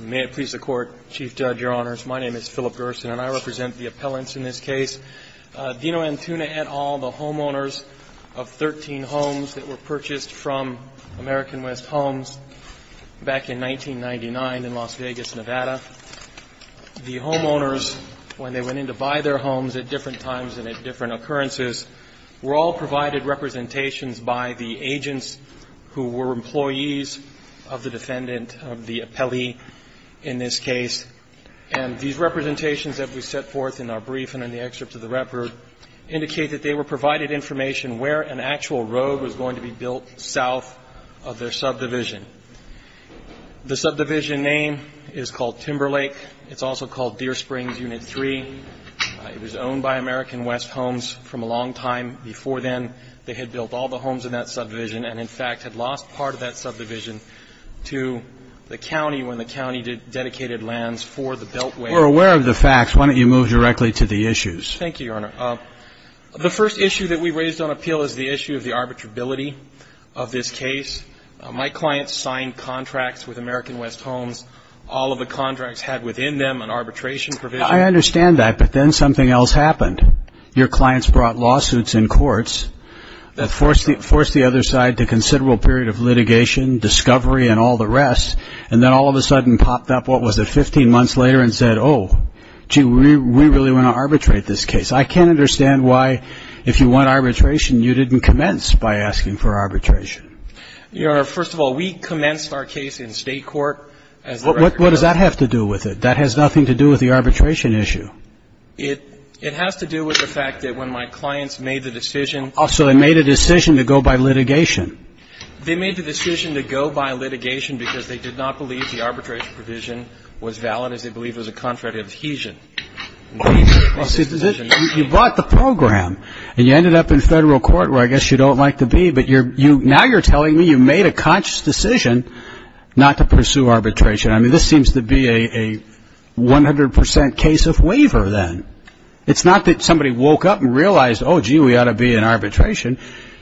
May it please the Court, Chief Judge, Your Honors, my name is Philip Gerson and I represent the appellants in this case. Dino Antuna et al., the homeowners of 13 homes that were purchased from American West Homes back in 1999 in Las Vegas, Nevada, the homeowners, when they went in to buy their homes at different times and at different occurrences, were all who were employees of the defendant, of the appellee in this case, and these representations that we set forth in our brief and in the excerpt of the record indicate that they were provided information where an actual road was going to be built south of their subdivision. The subdivision name is called Timberlake. It's also called Deer Springs Unit 3. It was owned by American West Homes from a long time before then. They had built all the homes in that subdivision and, in fact, had lost part of that subdivision to the county when the county dedicated lands for the beltway. We're aware of the facts. Why don't you move directly to the issues? Thank you, Your Honor. The first issue that we raised on appeal is the issue of the arbitrability of this case. My clients signed contracts with American West Homes. All of the contracts had within them an arbitration provision. I understand that, but then something else happened. Your clients brought lawsuits in the other side to considerable period of litigation, discovery, and all the rest, and then all of a sudden popped up, what was it, 15 months later and said, oh, gee, we really want to arbitrate this case. I can't understand why, if you want arbitration, you didn't commence by asking for arbitration. Your Honor, first of all, we commenced our case in state court. What does that have to do with it? That has nothing to do with the arbitration issue. It has to do with the fact that when my clients made the decision So they made a decision to go by litigation. They made the decision to go by litigation because they did not believe the arbitration provision was valid, as they believed it was a contract of adhesion. You bought the program, and you ended up in federal court, where I guess you don't like to be, but now you're telling me you made a conscious decision not to pursue arbitration. This seems to be a 100 percent case of waiver, then. It's not that somebody woke up and realized, oh, gee, we ought to be in arbitration.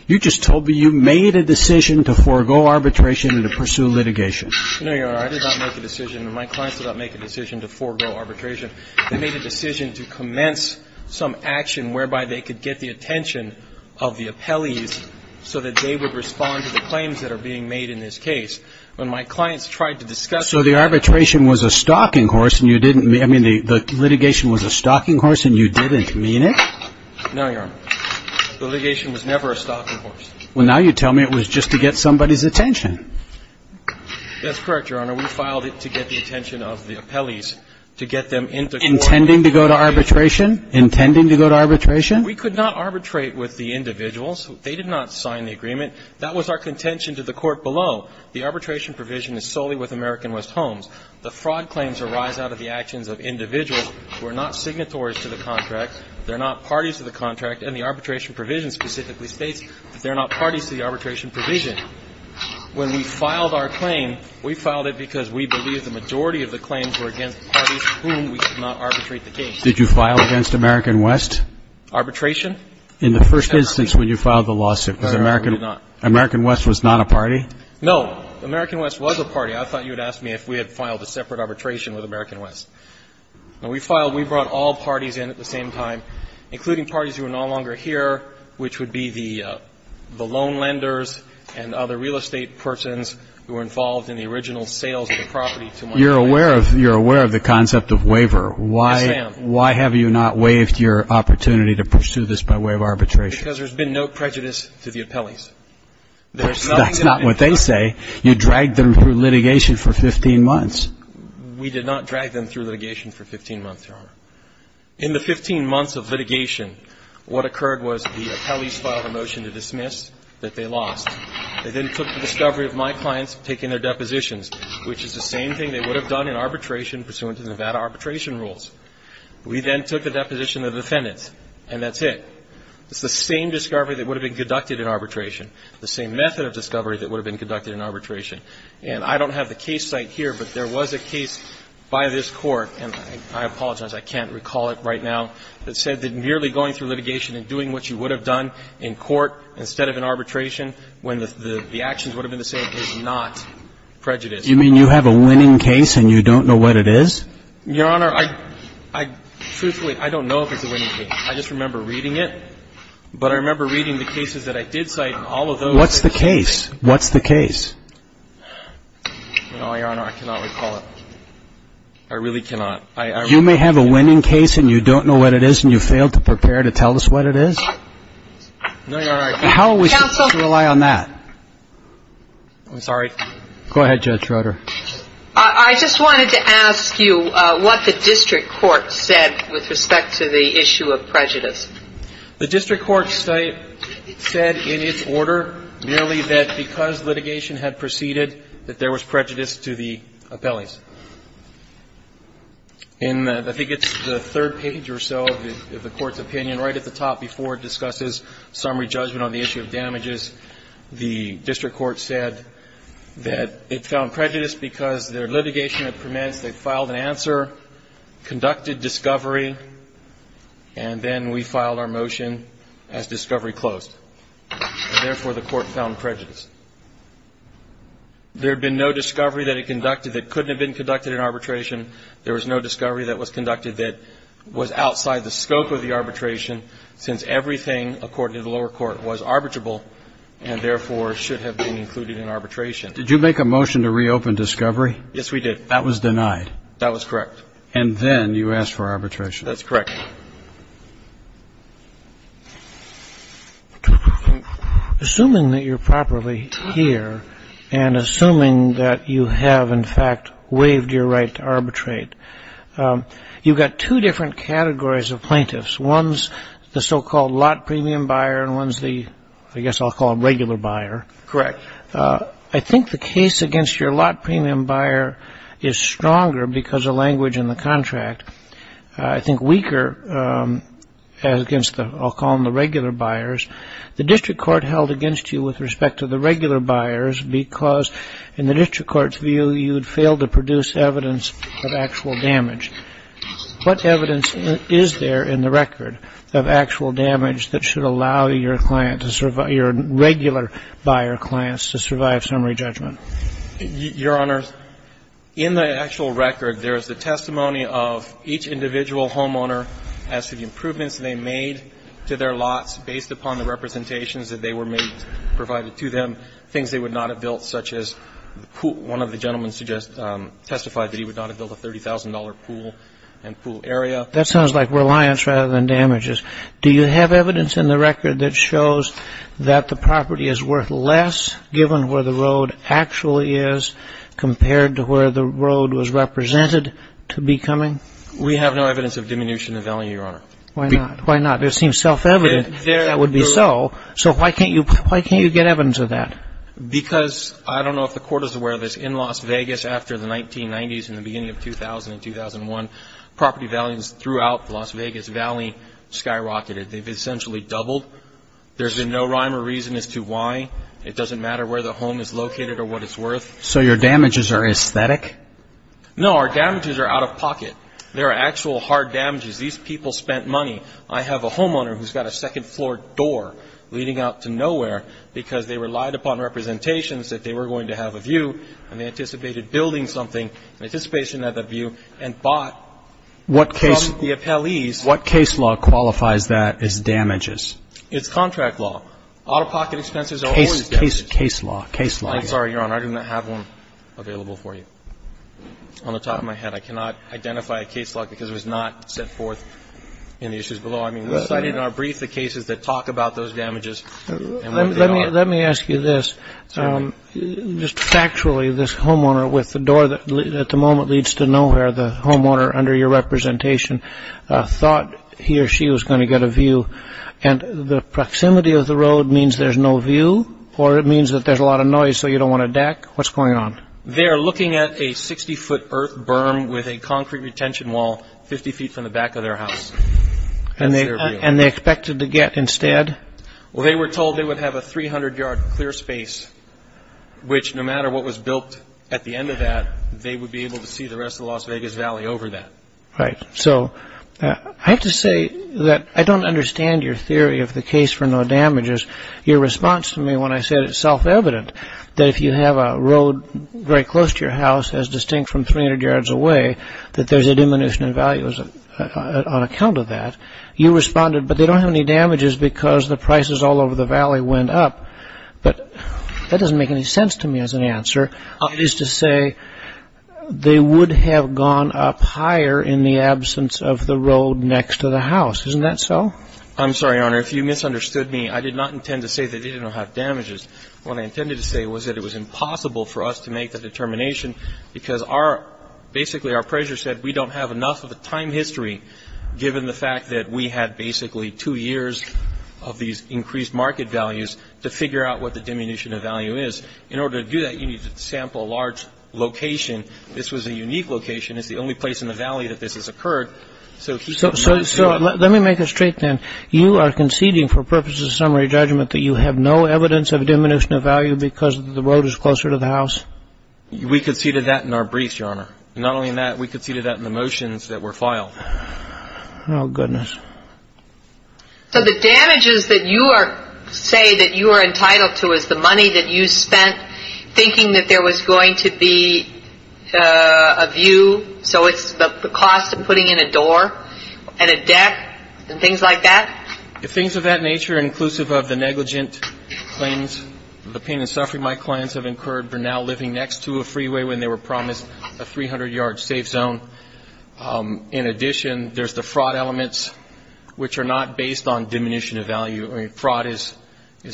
You just told me you made a decision to forego arbitration and to pursue litigation. No, Your Honor, I did not make a decision, and my clients did not make a decision to forego arbitration. They made a decision to commence some action whereby they could get the attention of the appellees so that they would respond to the claims that are being made in this case. When my clients tried to discuss So the arbitration was a stalking horse, and you didn't, I mean, the litigation was a stalking horse, and you didn't mean it? No, Your Honor. The litigation was never a stalking horse. Well, now you're telling me it was just to get somebody's attention. That's correct, Your Honor. We filed it to get the attention of the appellees, to get them into court. Intending to go to arbitration? Intending to go to arbitration? We could not arbitrate with the individuals. They did not sign the agreement. That was our contention to the court below. The arbitration provision is solely with American West Homes. The fraud claims arise out of the actions of individuals who are not signatories to the contract. They're not parties to the contract. And the arbitration provision specifically states that they're not parties to the arbitration provision. When we filed our claim, we filed it because we believe the majority of the claims were against parties whom we could not arbitrate the case. Did you file against American West? Arbitration? In the first instance when you filed the lawsuit. Right, I did not. American West was not a party? No, American West was a party. I thought you would ask me if we had filed a separate arbitration with American West. We filed, we brought all parties in at the same time, including parties who are no longer here, which would be the loan lenders and other real estate persons who were involved in the original sales of the property to my client. You're aware of the concept of waiver. Yes, I am. Why have you not waived your opportunity to pursue this by way of arbitration? Because there's been no prejudice to the appellees. That's not what they say. You dragged them through litigation for 15 months. We did not drag them through litigation for 15 months, Your Honor. In the 15 months of litigation, what occurred was the appellees filed a motion to dismiss that they lost. They then took the discovery of my clients taking their depositions, which is the same thing they would have done in arbitration pursuant to Nevada arbitration rules. We then took the deposition of the defendants, and that's it. It's the same discovery that would have been conducted in arbitration, the same method of discovery that would have been conducted in arbitration. And I don't have the case cited here, but there was a case by this Court, and I apologize, I can't recall it right now, that said that merely going through litigation and doing what you would have done in court instead of in arbitration when the actions would have been the same is not prejudice. You mean you have a winning case and you don't know what it is? Your Honor, I truthfully, I don't know if it's a winning case. I just remember reading it, but I remember reading the cases that I did cite and all of those that I did cite. What's the case? What's the case? No, Your Honor, I cannot recall it. I really cannot. I really don't. You may have a winning case and you don't know what it is and you failed to prepare to tell us what it is? No, Your Honor, I can't. Counsel. How are we supposed to rely on that? I'm sorry. Go ahead, Judge Rutter. I just wanted to ask you what the district court said with respect to the issue of prejudice. The district court said in its order merely that because litigation had proceeded that there was prejudice to the appellees. In the third page or so of the Court's opinion, right at the top before it discusses summary judgment on the issue of damages, the district court said that it found prejudice because their litigation permits they filed an answer, conducted discovery, and then we filed our motion as discovery closed. Therefore, the court found prejudice. There had been no discovery that it conducted that couldn't have been conducted in arbitration. There was no discovery that was conducted that was outside the scope of the arbitration since everything according to the lower court was arbitrable and therefore should have been included in arbitration. Did you make a motion to reopen discovery? Yes, we did. That was denied. That was correct. And then you asked for arbitration. That's correct. Assuming that you're properly here and assuming that you have, in fact, waived your right to arbitrate, you've got two different categories of plaintiffs. One's the so-called lot premium buyer and one's the, I guess I'll call it regular buyer. Correct. I think the case against your lot premium buyer is stronger because of language in the contract. I think weaker against the, I'll call them the regular buyers. The district court held against you with respect to the regular buyers because in the district court's view, you had failed to produce evidence of actual damage. What evidence is there in the record of actual damage that should allow your client to survive, your regular buyer clients to survive summary judgment? Your Honor, in the actual record, there is the testimony of each individual homeowner as to the improvements they made to their lots based upon the representations that they were made, provided to them, things they would not have built, such as one of the gentlemen testified that he would not have built a $30,000 pool and pool area. That sounds like reliance rather than damages. Do you have evidence in the record that shows that the property is worth less given where the road actually is compared to where the road was represented to be coming? We have no evidence of diminution of value, Your Honor. Why not? Why not? It seems self-evident that would be so. So why can't you get evidence of that? Because, I don't know if the court is aware of this, in Las Vegas after the 1990s and the beginning of 2000 and 2001, property values throughout Las Vegas Valley skyrocketed. They've essentially doubled. There's been no rhyme or reason as to why. It doesn't matter where the home is located or what it's worth. So your damages are aesthetic? No, our damages are out of pocket. They're actual hard damages. These people spent money. I have a homeowner who's got a second floor door leading out to nowhere because they relied upon representations that they were going to have a view and they anticipated building something in anticipation of that view and bought from the appellees. What case law qualifies that as damages? It's contract law. Out-of-pocket expenses are always damages. Case law. Case law. I'm sorry, Your Honor. I do not have one available for you. On the top of my head, I cannot identify a case law because it was not set forth in the issues below. I mean, we cited in our brief the cases that talk about those damages and what they are. Let me ask you this. Just factually, this homeowner with the door that at the moment leads to nowhere, the homeowner under your representation, thought he or she was going to get a view. And the proximity of the road means there's no view? Or it means that there's a lot of noise so you don't want to deck? What's going on? They're looking at a 60-foot earth berm with a concrete retention wall 50 feet from the back of their house. And they expected to get instead? Well, they were told they would have a 300-yard clear space, which no matter what was built at the end of that, they would be able to see the rest of the Las Vegas Valley over that. Right. So I have to say that I don't understand your theory of the case for no damages. Your response to me when I said it's self-evident that if you have a road very close to your house, as distinct from 300 yards away, that there's a diminution in value on account of that. You responded, but they don't have any damages because the prices all over the valley went up. But that doesn't make any sense to me as an answer. It is to say they would have gone up higher in the absence of the road next to the house. Isn't that so? I'm sorry, Your Honor. If you misunderstood me, I did not intend to say that they didn't have damages. What I intended to say was that it was impossible for us to make the determination. Because basically, our appraiser said we don't have enough of a time history given the fact that we had basically two years of these increased market values to figure out what the diminution of value is. In order to do that, you need to sample a large location. This was a unique location. It's the only place in the valley that this has occurred. So he- So let me make it straight then. You are conceding for purposes of summary judgment that you have no evidence of diminution of value because the road is closer to the house? We conceded that in our briefs, Your Honor. Not only in that, we conceded that in the motions that were filed. Oh, goodness. So the damages that you are- say that you are entitled to is the money that you spent thinking that there was going to be a view, so it's the cost of putting in a door and a deck and things like that? If things of that nature, inclusive of the negligent claims, the pain and suffering my clients have incurred for now living next to a freeway when they were promised a 300-yard safe zone. In addition, there's the fraud elements, which are not based on diminution of value. Fraud is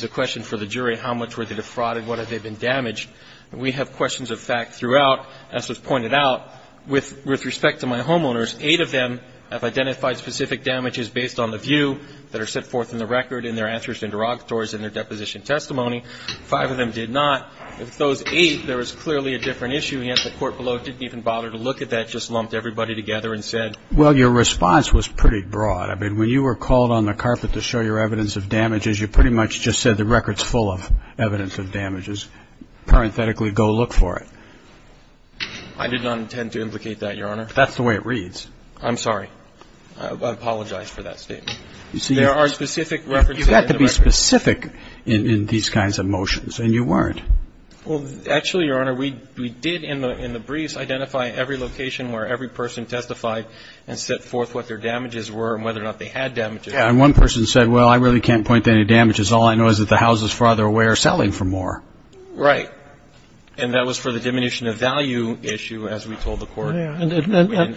a question for the jury. How much were they defrauded? What have they been damaged? We have questions of fact throughout. As was pointed out, with respect to my homeowners, eight of them have identified specific damages based on the view that are set forth in the record and their answers and derogatories in their deposition testimony. Five of them did not. With those eight, there was clearly a different issue, and yet the court below didn't even bother to look at that, just lumped everybody together and said- Well, your response was pretty broad. I mean, when you were called on the carpet to show your evidence of damages, you pretty much just said the record's full of evidence of damages. Parenthetically, go look for it. I did not intend to implicate that, Your Honor. That's the way it reads. I'm sorry. I apologize for that statement. You see- There are specific references- Specific in these kinds of motions, and you weren't. Well, actually, Your Honor, we did, in the briefs, identify every location where every person testified and set forth what their damages were and whether or not they had damages. Yeah, and one person said, well, I really can't point to any damages. All I know is that the houses farther away are selling for more. Right. And that was for the diminution of value issue, as we told the court. Yeah, and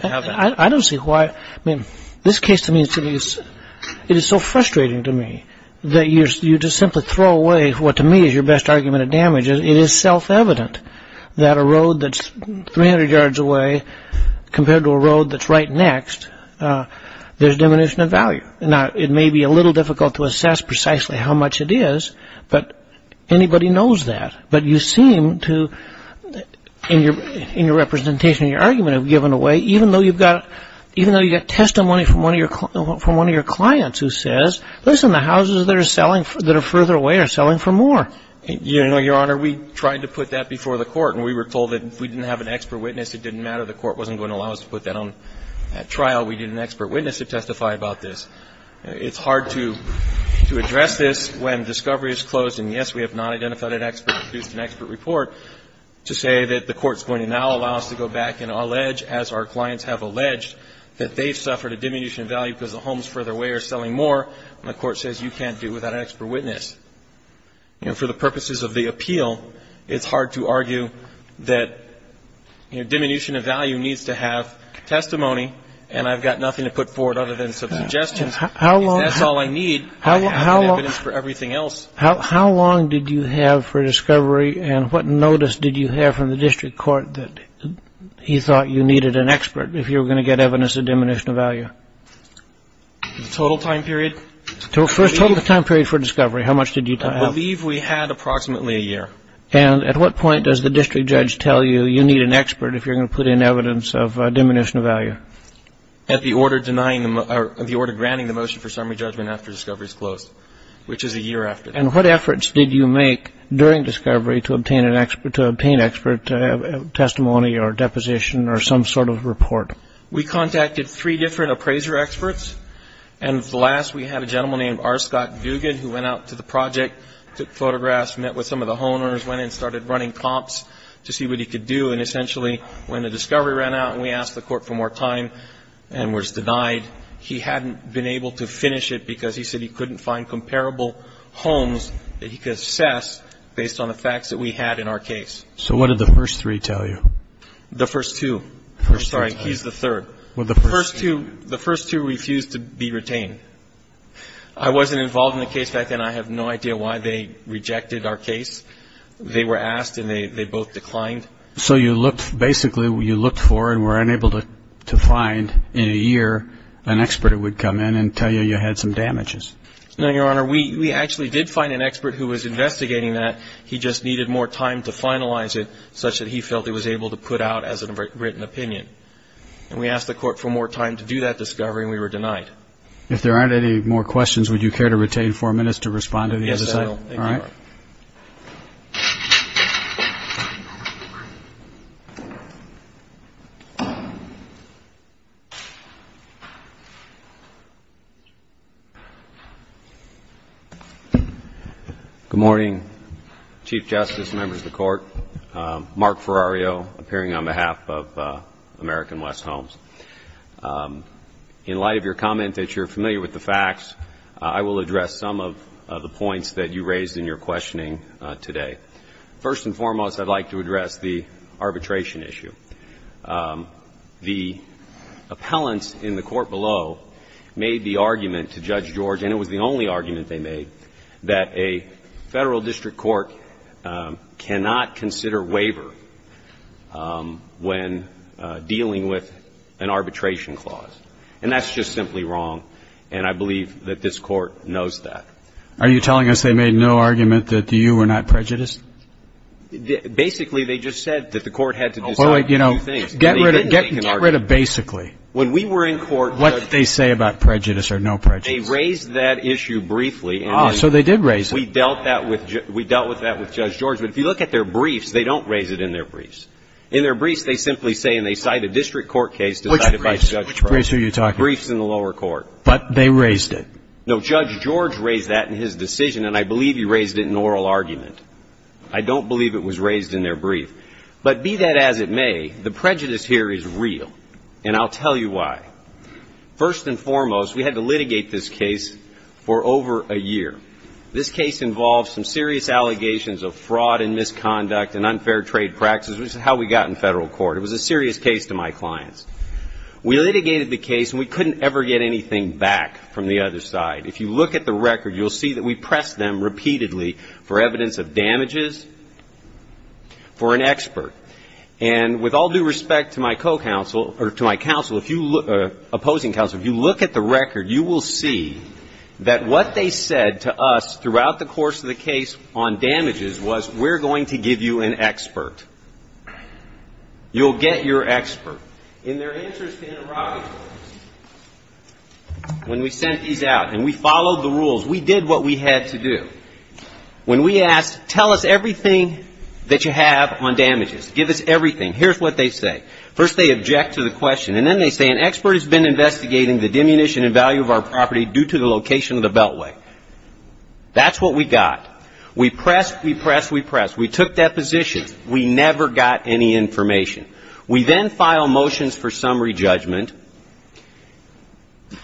I don't see why- I mean, this case, to me, it is so frustrating to me that you just simply throw away what, to me, is your best argument of damages. It is self-evident that a road that's 300 yards away, compared to a road that's right next, there's diminution of value. Now, it may be a little difficult to assess precisely how much it is, but anybody knows that. But you seem to, in your representation, in your argument, have given away, even though you've got testimony from one of your clients who says, listen, the houses that are further away are selling for more. Your Honor, we tried to put that before the court. And we were told that if we didn't have an expert witness, it didn't matter. The court wasn't going to allow us to put that on trial. We need an expert witness to testify about this. It's hard to address this when discovery is closed. And, yes, we have not identified an expert, produced an expert report, to say that the court's going to now allow us to go back and allege, as our clients have alleged, that they've suffered a diminution of value because the homes further away are selling more. And the court says, you can't do without an expert witness. For the purposes of the appeal, it's hard to argue that diminution of value needs to have testimony. And I've got nothing to put forward other than some suggestions. If that's all I need, I'll have the evidence for everything else. How long did you have for discovery? And what notice did you have from the district court that you thought you needed an expert if you were going to get evidence of diminution of value? Total time period. First, total time period for discovery. How much did you have? I believe we had approximately a year. And at what point does the district judge tell you, you need an expert if you're going to put in evidence of diminution of value? At the order denying them, or the order granting the motion for summary judgment after discovery is closed, which is a year after. And what efforts did you make during discovery to obtain an expert, to obtain expert testimony or deposition or some sort of report? We contacted three different appraiser experts. And the last, we had a gentleman named R. Scott Dugan who went out to the project, took photographs, met with some of the homeowners, went in and started running comps to see what he could do. And essentially, when the discovery ran out and we asked the court for more time and was denied, he hadn't been able to finish it because he said he couldn't find comparable homes that he could assess based on the facts that we had in our case. So what did the first three tell you? The first two. Sorry, he's the third. Well, the first two refused to be retained. I wasn't involved in the case back then. I have no idea why they rejected our case. They were asked and they both declined. So you looked, basically, you looked for and were unable to find in a year an expert who would come in and tell you you had some damages. No, Your Honor. We actually did find an expert who was investigating that. He just needed more time to finalize it such that he felt he was able to put out as a written opinion. And we asked the court for more time to do that discovery and we were denied. If there aren't any more questions, would you care to retain four minutes to respond to the other side? Yes, I will. All right. Good morning, Chief Justice, members of the court. Mark Ferrario, appearing on behalf of American West Homes. In light of your comment that you're familiar with the facts, I will address some of the points that you raised in your questioning today. First and foremost, I'd like to address the arbitration issue. The appellants in the court below made the argument to Judge George, and it was the only argument they made, that a federal district court cannot consider waiver when dealing with an arbitration clause. And that's just simply wrong. And I believe that this court knows that. Are you telling us they made no argument that you were not prejudiced? Basically, they just said that the court had to decide a few things. Get rid of basically. When we were in court- What did they say about prejudice or no prejudice? They raised that issue briefly. So they did raise it. We dealt with that with Judge George. But if you look at their briefs, they don't raise it in their briefs. In their briefs, they simply say, and they cite a district court case- Which briefs are you talking about? Briefs in the lower court. But they raised it. No, Judge George raised that in his decision, and I believe he raised it in oral argument. I don't believe it was raised in their brief. But be that as it may, the prejudice here is real, and I'll tell you why. First and foremost, we had to litigate this case for over a year. This case involved some serious allegations of fraud and misconduct and unfair trade practices, which is how we got in federal court. It was a serious case to my clients. We litigated the case, and we couldn't ever get anything back from the other side. If you look at the record, you'll see that we pressed them repeatedly for evidence of damages for an expert. And with all due respect to my opposing counsel, if you look at the record, you will see that what they said to us throughout the course of the case on damages was, we're going to give you an expert. You'll get your expert. And their answer has been a rocket launch. When we sent these out and we followed the rules, we did what we had to do. When we asked, tell us everything that you have on damages. Give us everything. Here's what they say. First, they object to the question. And then they say, an expert has been investigating the diminution and value of our property due to the location of the beltway. That's what we got. We pressed, we pressed, we pressed. We took depositions. We never got any information. We then file motions for summary judgment.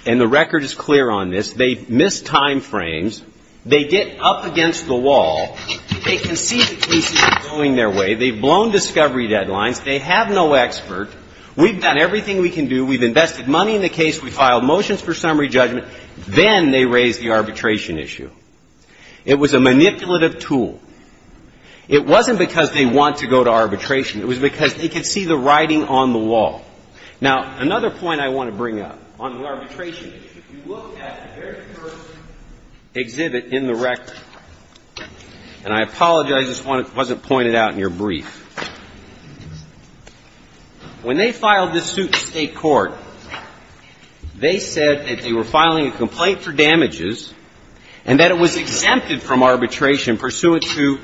And the record is clear on this. They missed time frames. They get up against the wall. They can see the cases are going their way. They've blown discovery deadlines. They have no expert. We've done everything we can do. We've invested money in the case. We filed motions for summary judgment. Then they raise the arbitration issue. It was a manipulative tool. It wasn't because they want to go to arbitration. It was because they could see the writing on the wall. Now, another point I want to bring up on arbitration. If you look at the very first exhibit in the record, and I apologize, this wasn't pointed out in your brief. When they filed this suit in state court, they said that they were filing a complaint for damages and that it was exempted from arbitration pursuant to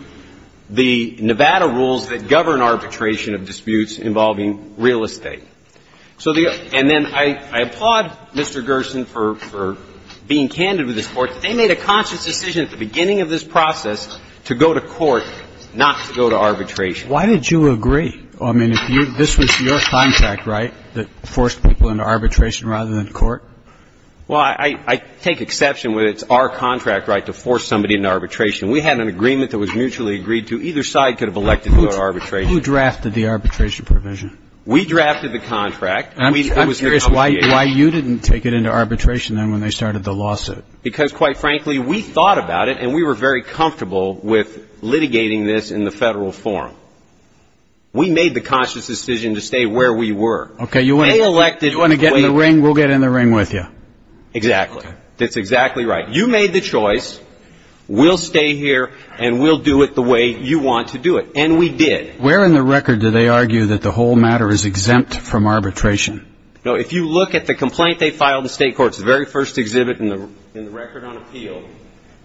the Nevada rules that govern arbitration of disputes involving real estate. So the, and then I applaud Mr. Gerson for being candid with this court. They made a conscious decision at the beginning of this process to go to court, not to go to arbitration. Why did you agree? I mean, if you, this was your contract, right, that forced people into arbitration rather than court? Well, I take exception when it's our contract right to force somebody into arbitration. We had an agreement that was mutually agreed to. Either side could have elected to go to arbitration. Who drafted the arbitration provision? We drafted the contract. I'm curious why you didn't take it into arbitration then when they started the lawsuit. Because quite frankly, we thought about it and we were very comfortable with litigating this in the federal forum. We made the conscious decision to stay where we were. Okay, you want to get in the ring, we'll get in the ring with you. Exactly. That's exactly right. You made the choice. We'll stay here and we'll do it the way you want to do it. And we did. Where in the record do they argue that the whole matter is exempt from arbitration? No, if you look at the complaint they filed in state courts, the very first exhibit in the record on appeal,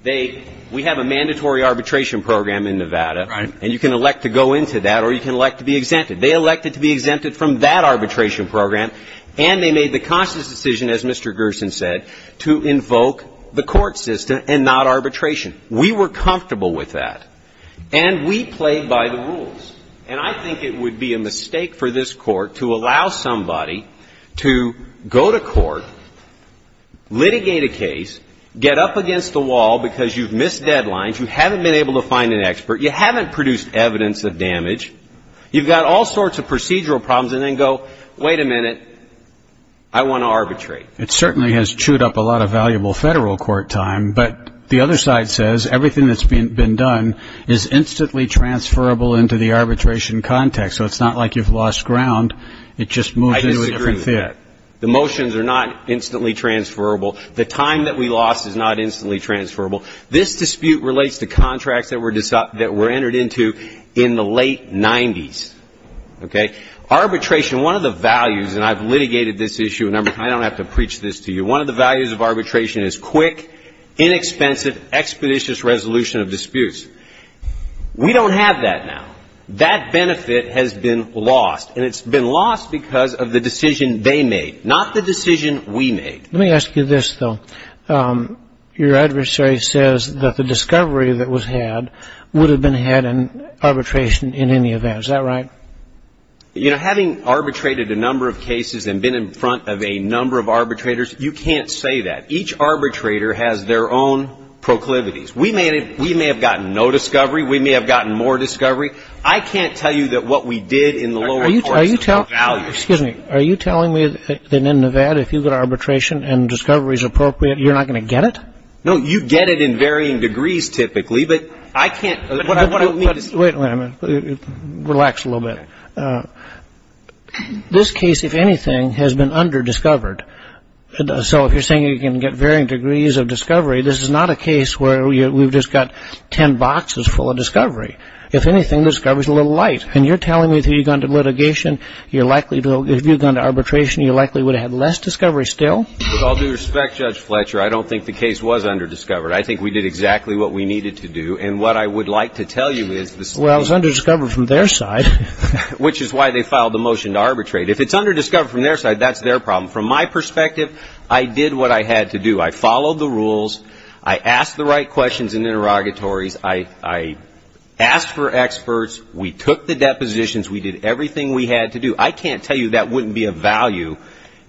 we have a mandatory arbitration program in Nevada and you can elect to go into that or you can elect to be exempted. They elected to be exempted from that arbitration program and they made the conscious decision, as Mr. Gerson said, to invoke the court system and not arbitration. We were comfortable with that. And we played by the rules. And I think it would be a mistake for this court to allow somebody to go to court, litigate a case, get up against the wall because you've missed deadlines, you haven't been able to find an expert, you haven't produced evidence of damage, you've got all sorts of procedural problems and then go, wait a minute, I want to arbitrate. It certainly has chewed up a lot of valuable federal court time, but the other side says everything that's been done is instantly transferable into the arbitration context, so it's not like you've lost ground, it just moves into a different theater. The motions are not instantly transferable. The time that we lost is not instantly transferable. This dispute relates to contracts that were entered into in the late 90s. Okay? Arbitration, one of the values, and I've litigated this issue, and I don't have to preach this to you, one of the values of arbitration is quick, inexpensive, expeditious resolution of disputes. We don't have that now. That benefit has been lost, and it's been lost because of the decision they made, not the decision we made. Let me ask you this, though. Your adversary says that the discovery that was had would have been had in arbitration in any event. Is that right? You know, having arbitrated a number of cases and been in front of a number of arbitrators, you can't say that. Each arbitrator has their own proclivities. We may have gotten no discovery. We may have gotten more discovery. I can't tell you that what we did in the lower courts is of no value. Excuse me. Are you telling me that in Nevada, if you've got arbitration and discovery is appropriate, you're not going to get it? No, you get it in varying degrees, typically, but I can't, what I don't mean to say. Wait a minute. Relax a little bit. This case, if anything, has been under-discovered. So if you're saying you can get varying degrees of discovery, this is not a case where we've just got 10 boxes full of discovery. If anything, discovery's a little light. And you're telling me that if you'd gone to litigation, you're likely to have, if you'd gone to arbitration, you likely would have had less discovery still? With all due respect, Judge Fletcher, I don't think the case was under-discovered. I think we did exactly what we needed to do. And what I would like to tell you is this case- Well, it was under-discovered from their side. Which is why they filed the motion to arbitrate. If it's under-discovered from their side, that's their problem. From my perspective, I did what I had to do. I followed the rules. I asked the right questions and interrogatories. I asked for experts. We took the depositions. We did everything we had to do. I can't tell you that wouldn't be of value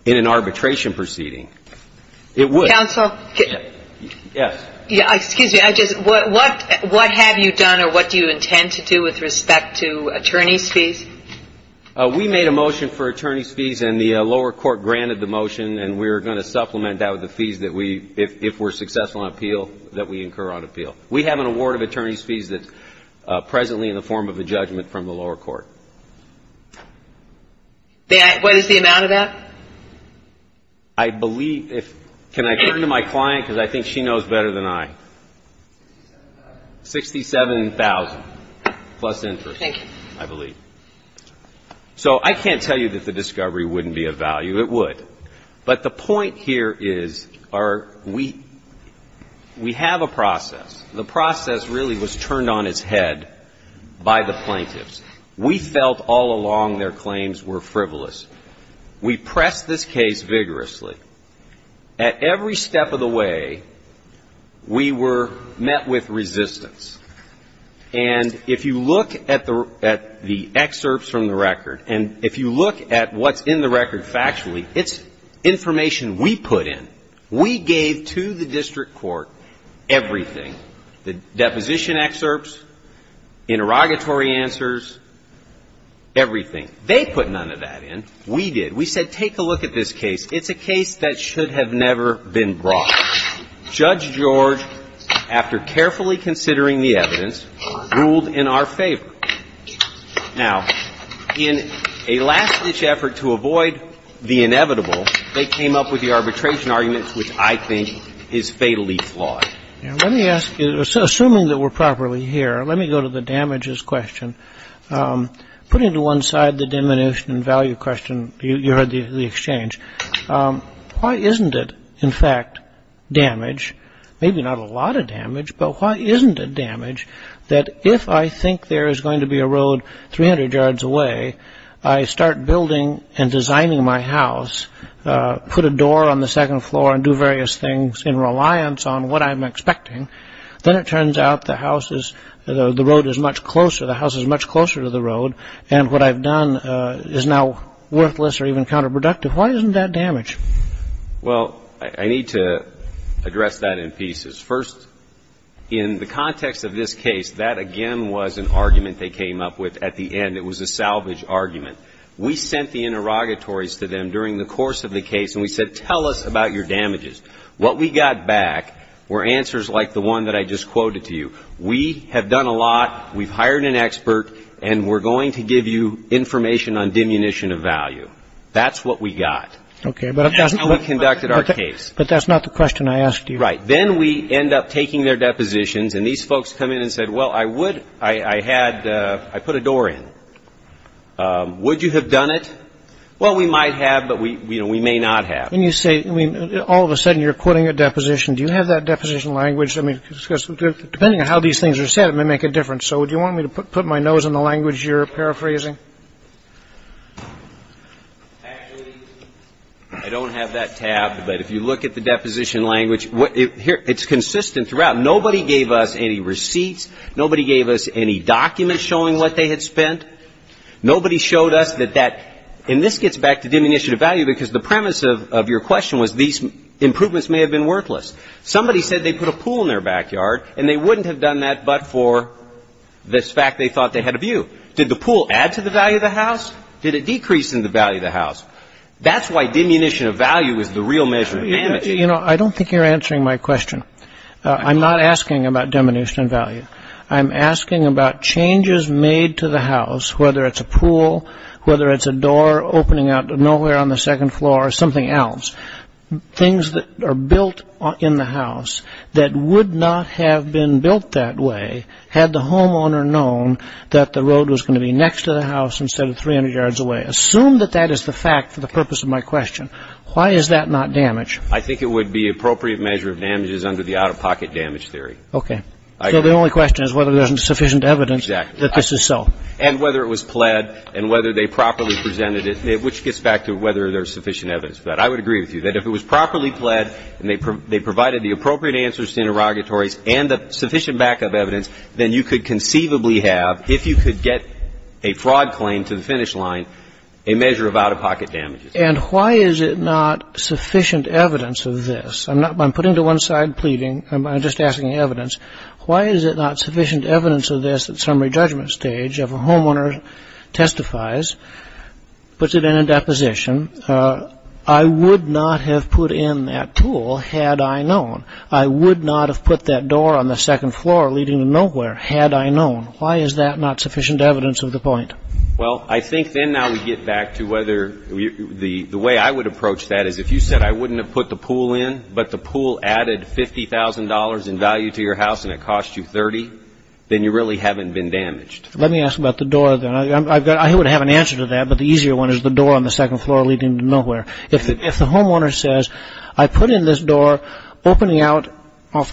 in an arbitration proceeding. It would. Counsel? Yes. Excuse me. What have you done, or what do you intend to do with respect to attorney's fees? We made a motion for attorney's fees. And the lower court granted the motion. And we're going to supplement that with the fees that we, if we're successful in appeal, that we incur on appeal. We have an award of attorney's fees that's presently in the form of a judgment from the lower court. What is the amount of that? I believe, if, can I turn to my client, because I think she knows better than I. 67,000 plus interest, I believe. So I can't tell you that the discovery wouldn't be of value. It would. But the point here is, we have a process. The process really was turned on its head by the plaintiffs. We felt all along their claims were frivolous. We pressed this case vigorously. At every step of the way, we were met with resistance. And if you look at the excerpts from the record, and if you look at what's in the record factually, it's information we put in. We gave to the district court everything. The deposition excerpts, interrogatory answers, everything. They put none of that in. We did. We said, take a look at this case. It's a case that should have never been brought. Judge George, after carefully considering the evidence, ruled in our favor. Now, in a last-ditch effort to avoid the inevitable, they came up with the arbitration arguments, which I think is fatally flawed. Let me ask you, assuming that we're properly here, let me go to the damages question. Putting to one side the diminution in value question, you heard the exchange. Why isn't it, in fact, damage, maybe not a lot of damage, but why isn't it damage that if I think there is going to be a road 300 yards away, I start building and designing my house, put a door on the second floor, and do various things in reliance on what I'm expecting, then it turns out the house is, the road is much closer, the house is much closer to the road, and what I've done is now worthless or even counterproductive. Why isn't that damage? Well, I need to address that in pieces. First, in the context of this case, that, again, was an argument they came up with at the end. It was a salvage argument. We sent the interrogatories to them during the course of the case, and we said, tell us about your damages. What we got back were answers like the one that I just quoted to you. We have done a lot, we've hired an expert, and we're going to give you information on diminution of value. That's what we got. That's how we conducted our case. But that's not the question I asked you. Right. Then we end up taking their depositions, and these folks come in and said, well, I would, I had, I put a door in. Would you have done it? Well, we might have, but we may not have. When you say, I mean, all of a sudden you're quoting a deposition. Do you have that deposition language? I mean, depending on how these things are said, it may make a difference. So do you want me to put my nose in the language you're paraphrasing? Actually, I don't have that tab. But if you look at the deposition language, it's consistent throughout. Nobody gave us any receipts. Nobody gave us any documents showing what they had spent. Nobody showed us that that, and this gets back to diminution of value because the premise of your question was these improvements may have been worthless. Somebody said they put a pool in their backyard, and they wouldn't have done that but for this fact they thought they had a view. Did the pool add to the value of the house? Did it decrease in the value of the house? That's why diminution of value is the real measure of amity. You know, I don't think you're answering my question. I'm not asking about diminution of value. I'm asking about changes made to the house, whether it's a pool, whether it's a door opening out of nowhere on the second floor, or something else. Things that are built in the house that would not have been built that way had the homeowner known that the road was going to be next to the house instead of 300 yards away. Assume that that is the fact for the purpose of my question. Why is that not damage? I think it would be appropriate measure of damages under the out-of-pocket damage theory. Okay. So the only question is whether there's sufficient evidence that this is so. And whether it was pled, and whether they properly presented it, which gets back to whether there's sufficient evidence for that. I would agree with you that if it was properly pled, and they provided the appropriate answers to interrogatories, and the sufficient backup evidence, then you could conceivably have, if you could get a fraud claim to the finish line, a measure of out-of-pocket damages. And why is it not sufficient evidence of this? I'm putting to one side pleading. I'm just asking evidence. Why is it not sufficient evidence of this at summary judgment stage if a homeowner testifies, puts it in a deposition, I would not have put in that tool had I known. I would not have put that door on the second floor leading to nowhere had I known. Why is that not sufficient evidence of the point? Well, I think then now we get back to whether the way I would approach that is if you said I wouldn't have put the pool in, but the pool added $50,000 in value to your house, and it cost you $30,000, then you really haven't been damaged. Let me ask about the door then. I would have an answer to that, but the easier one is the door on the second floor leading to nowhere. If the homeowner says I put in this door opening out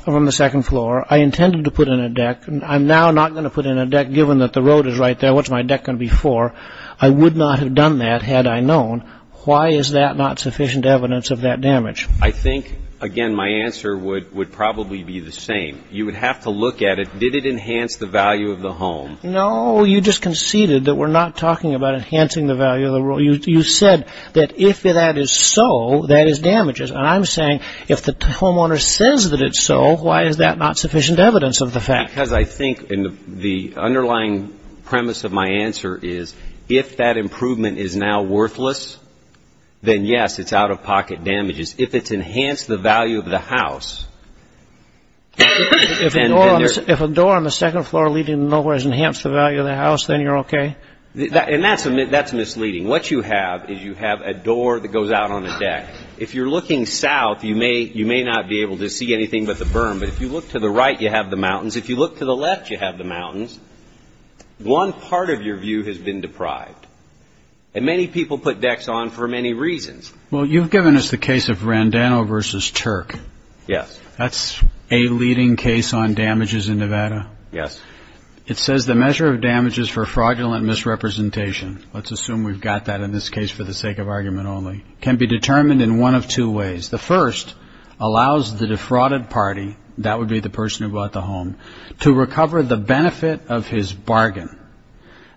from the second floor, I intended to put in a deck, I'm now not going to put in a deck given that the road is right there, what's my deck going to be for, I would not have done that had I known, why is that not sufficient evidence of that damage? I think, again, my answer would probably be the same. You would have to look at it. Did it enhance the value of the home? No, you just conceded that we're not talking about enhancing the value of the house. If that is so, that is damages, and I'm saying if the homeowner says that it's so, why is that not sufficient evidence of the fact? Because I think the underlying premise of my answer is if that improvement is now worthless, then yes, it's out-of-pocket damages. If it's enhanced the value of the house, then you're okay. If a door on the second floor leading to nowhere has enhanced the value of the house, then you're okay? And that's misleading. What you have is you have a door that goes out on a deck. If you're looking south, you may not be able to see anything but the berm, but if you look to the right, you have the mountains. If you look to the left, you have the mountains. One part of your view has been deprived, and many people put decks on for many reasons. Well, you've given us the case of Randano v. Turk. Yes. That's a leading case on damages in Nevada. Yes. It says the measure of damage is for fraudulent misrepresentation. Let's assume we've got that in this case for the sake of argument only. It can be determined in one of two ways. The first allows the defrauded party, that would be the person who bought the home, to recover the benefit of his bargain.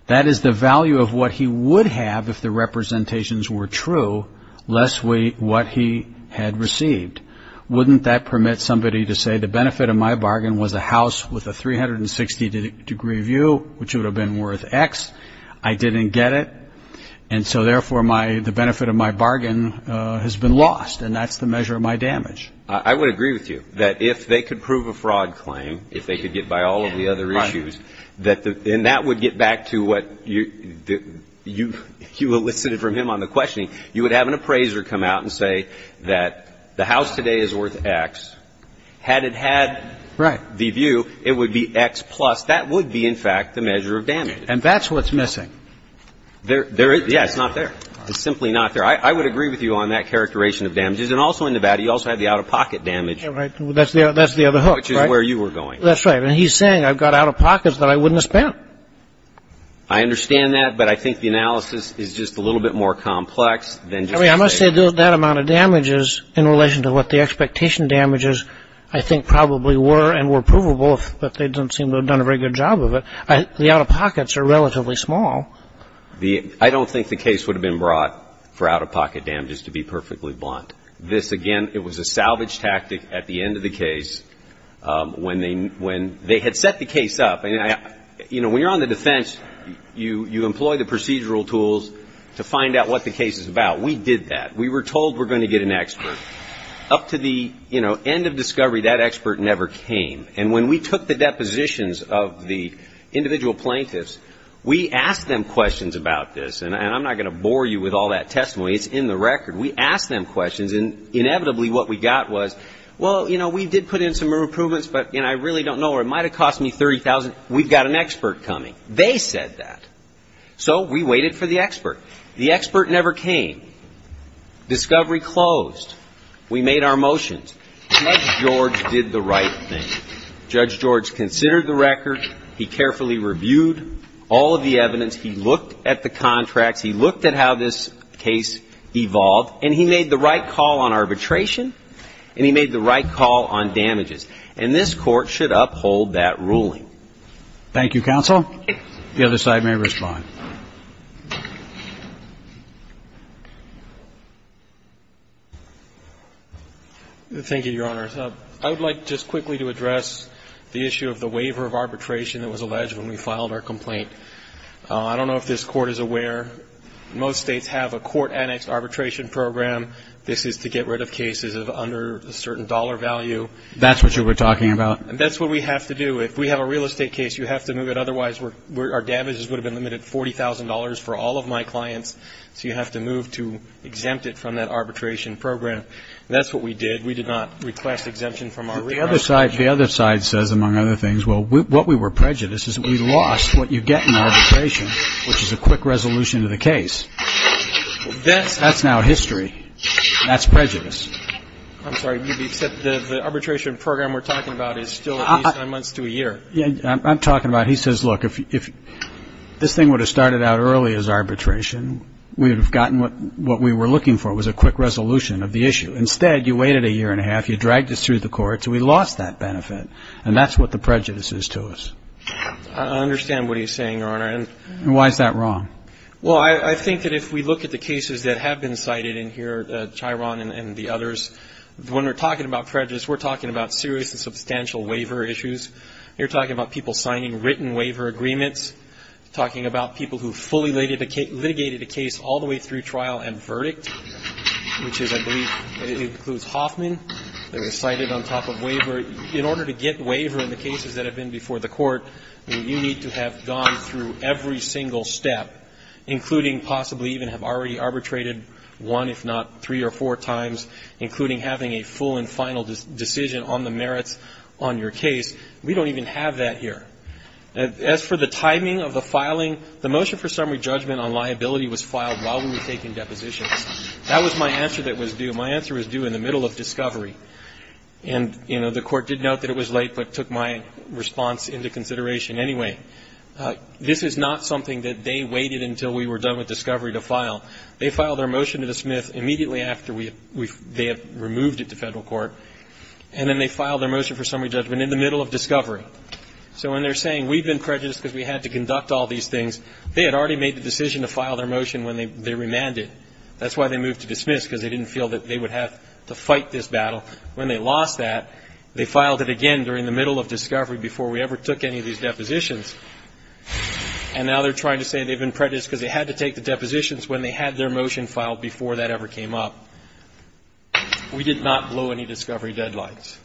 That is the value of what he would have if the representations were true, less what he had received. Wouldn't that permit somebody to say the benefit of my bargain was a house with a 360-degree view, which would have been worth X. I didn't get it, and so therefore the benefit of my bargain has been lost, and that's the measure of my damage. I would agree with you that if they could prove a fraud claim, if they could get by all of the other issues, and that would get back to what you elicited from him on the questioning, you would have an appraiser come out and say that the house today is worth X. Had it had the view, it would be X plus. That would be, in fact, the measure of damage. And that's what's missing. Yeah, it's not there. It's simply not there. I would agree with you on that characterization of damages. And also in Nevada, you also have the out-of-pocket damage. That's the other hook, right? Which is where you were going. That's right. And he's saying I've got out-of-pockets that I wouldn't have spent. I understand that, but I think the analysis is just a little bit more complex than just... I must say that amount of damages in relation to what the expectation damages, I think probably were and were provable, but they don't seem to have done a very good job of it. The out-of-pockets are relatively small. I don't think the case would have been brought for out-of-pocket damages to be perfectly blunt. This, again, it was a salvage tactic at the end of the case when they had set the case up. You know, when you're on the defense, you employ the procedural tools to find out what the case is about. We did that. We were told we're going to get an expert. Up to the, you know, end of discovery, that expert never came. And when we took the depositions of the individual plaintiffs, we asked them questions about this. And I'm not going to bore you with all that testimony. It's in the record. We asked them questions, and inevitably what we got was, well, you know, we did put in some improvements, but, you know, I really don't know. It might have cost me $30,000. We've got an expert coming. They said that. So we waited for the expert. The expert never came. Discovery closed. We made our motions. Judge George did the right thing. Judge George considered the record. He carefully reviewed all of the evidence. He looked at the contracts. He looked at how this case evolved. And he made the right call on arbitration, and he made the right call on damages. And this Court should uphold that ruling. Thank you, counsel. The other side may respond. Thank you, Your Honor. I would like just quickly to address the issue of the waiver of arbitration that was alleged when we filed our complaint. I don't know if this Court is aware. Most states have a court-annexed arbitration program. This is to get rid of cases under a certain dollar value. That's what you were talking about. That's what we have to do. If we have a real estate case, you have to move it. Otherwise, our damages would have been limited $40,000 for all of my clients. So you have to move to exempt it from that arbitration program. That's what we did. We did not request exemption from our waiver. The other side says, among other things, well, what we were prejudiced is we lost what you get in arbitration, which is a quick resolution to the case. That's now history. That's prejudice. I'm sorry. You said the arbitration program we're talking about is still at least nine months to a year. I'm talking about, he says, look, if this thing would have started out early as arbitration, we would have gotten what we were looking for. It was a quick resolution of the issue. Instead, you waited a year and a half. You dragged us through the courts. We lost that benefit. And that's what the prejudice is to us. I understand what he's saying, Your Honor. Why is that wrong? Well, I think that if we look at the cases that have been cited in here, Chiron and the others, when we're talking about prejudice, we're talking about serious and substantial waiver issues. You're talking about people signing written waiver agreements, talking about people who fully litigated a case all the way through trial and verdict, which is, I believe, it includes Hoffman. They were cited on top of waiver. In order to get waiver in the cases that have been before the court, you need to have gone through every single step, including possibly even have already arbitrated one, if not three or four times, including having a full and final decision on the merits on your case. We don't even have that here. As for the timing of the filing, the motion for summary judgment on liability was filed while we were taking depositions. That was my answer that was due. My answer was due in the middle of discovery. And, you know, the court did note that it was late, but took my response into consideration anyway. This is not something that they waited until we were done with discovery to file. They filed their motion to the Smith immediately after they had removed it to federal court. And then they filed their motion for summary judgment in the middle of discovery. So when they're saying we've been prejudiced because we had to conduct all these things, they had already made the decision to file their motion when they remanded. That's why they moved to dismiss, because they didn't feel that they would have to fight this battle. When they lost that, they filed it again during the middle of discovery before we ever took any of these depositions. And now they're trying to say they've been prejudiced because they had to take the depositions when they had their motion filed before that ever came up. We did not blow any discovery deadlines.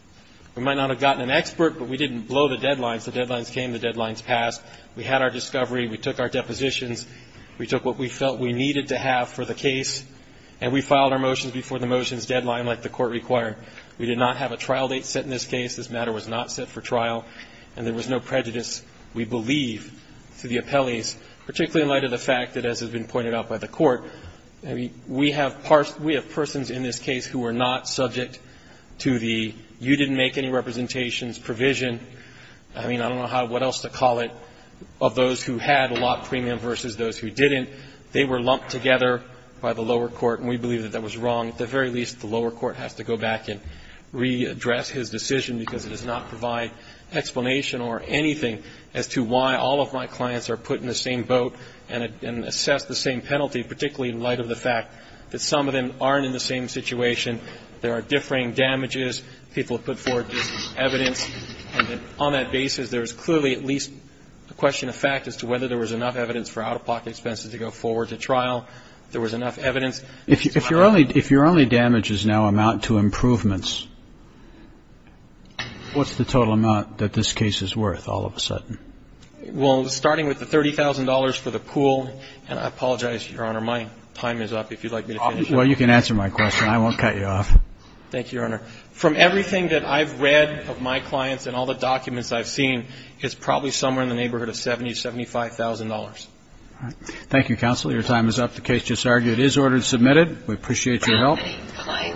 We might not have gotten an expert, but we didn't blow the deadlines. The deadlines came. The deadlines passed. We had our discovery. We took our depositions. We took what we felt we needed to have for the case. And we filed our motions before the motions deadline, like the court required. We did not have a trial date set in this case. This matter was not set for trial. And there was no prejudice, we believe, to the appellees, particularly in light of the fact that, as has been pointed out by the court, we have persons in this case who were not subject to the you didn't make any representations provision. I mean, I don't know what else to call it, of those who had a lot premium versus those who didn't. They were lumped together by the lower court, and we believe that that was wrong. At the very least, the lower court has to go back and readdress his decision, because it does not provide explanation or anything as to why all of my clients are put in the same boat and assess the same penalty, particularly in light of the fact that some of them aren't in the same situation. There are differing damages. People have put forward different evidence. And on that basis, there is clearly at least a question of fact as to whether there was enough evidence for out-of-pocket expenses to go forward to trial. There was enough evidence. If your only damages now amount to improvements, what's the total amount that this case is worth all of a sudden? Well, starting with the $30,000 for the pool, and I apologize, Your Honor, my time is up. If you'd like me to finish. Well, you can answer my question. I won't cut you off. Thank you, Your Honor. From everything that I've read of my clients and all the documents I've seen, it's probably somewhere in the neighborhood of $70,000, $75,000. Thank you, counsel. Your time is up. The case just argued is ordered submitted. We appreciate your help.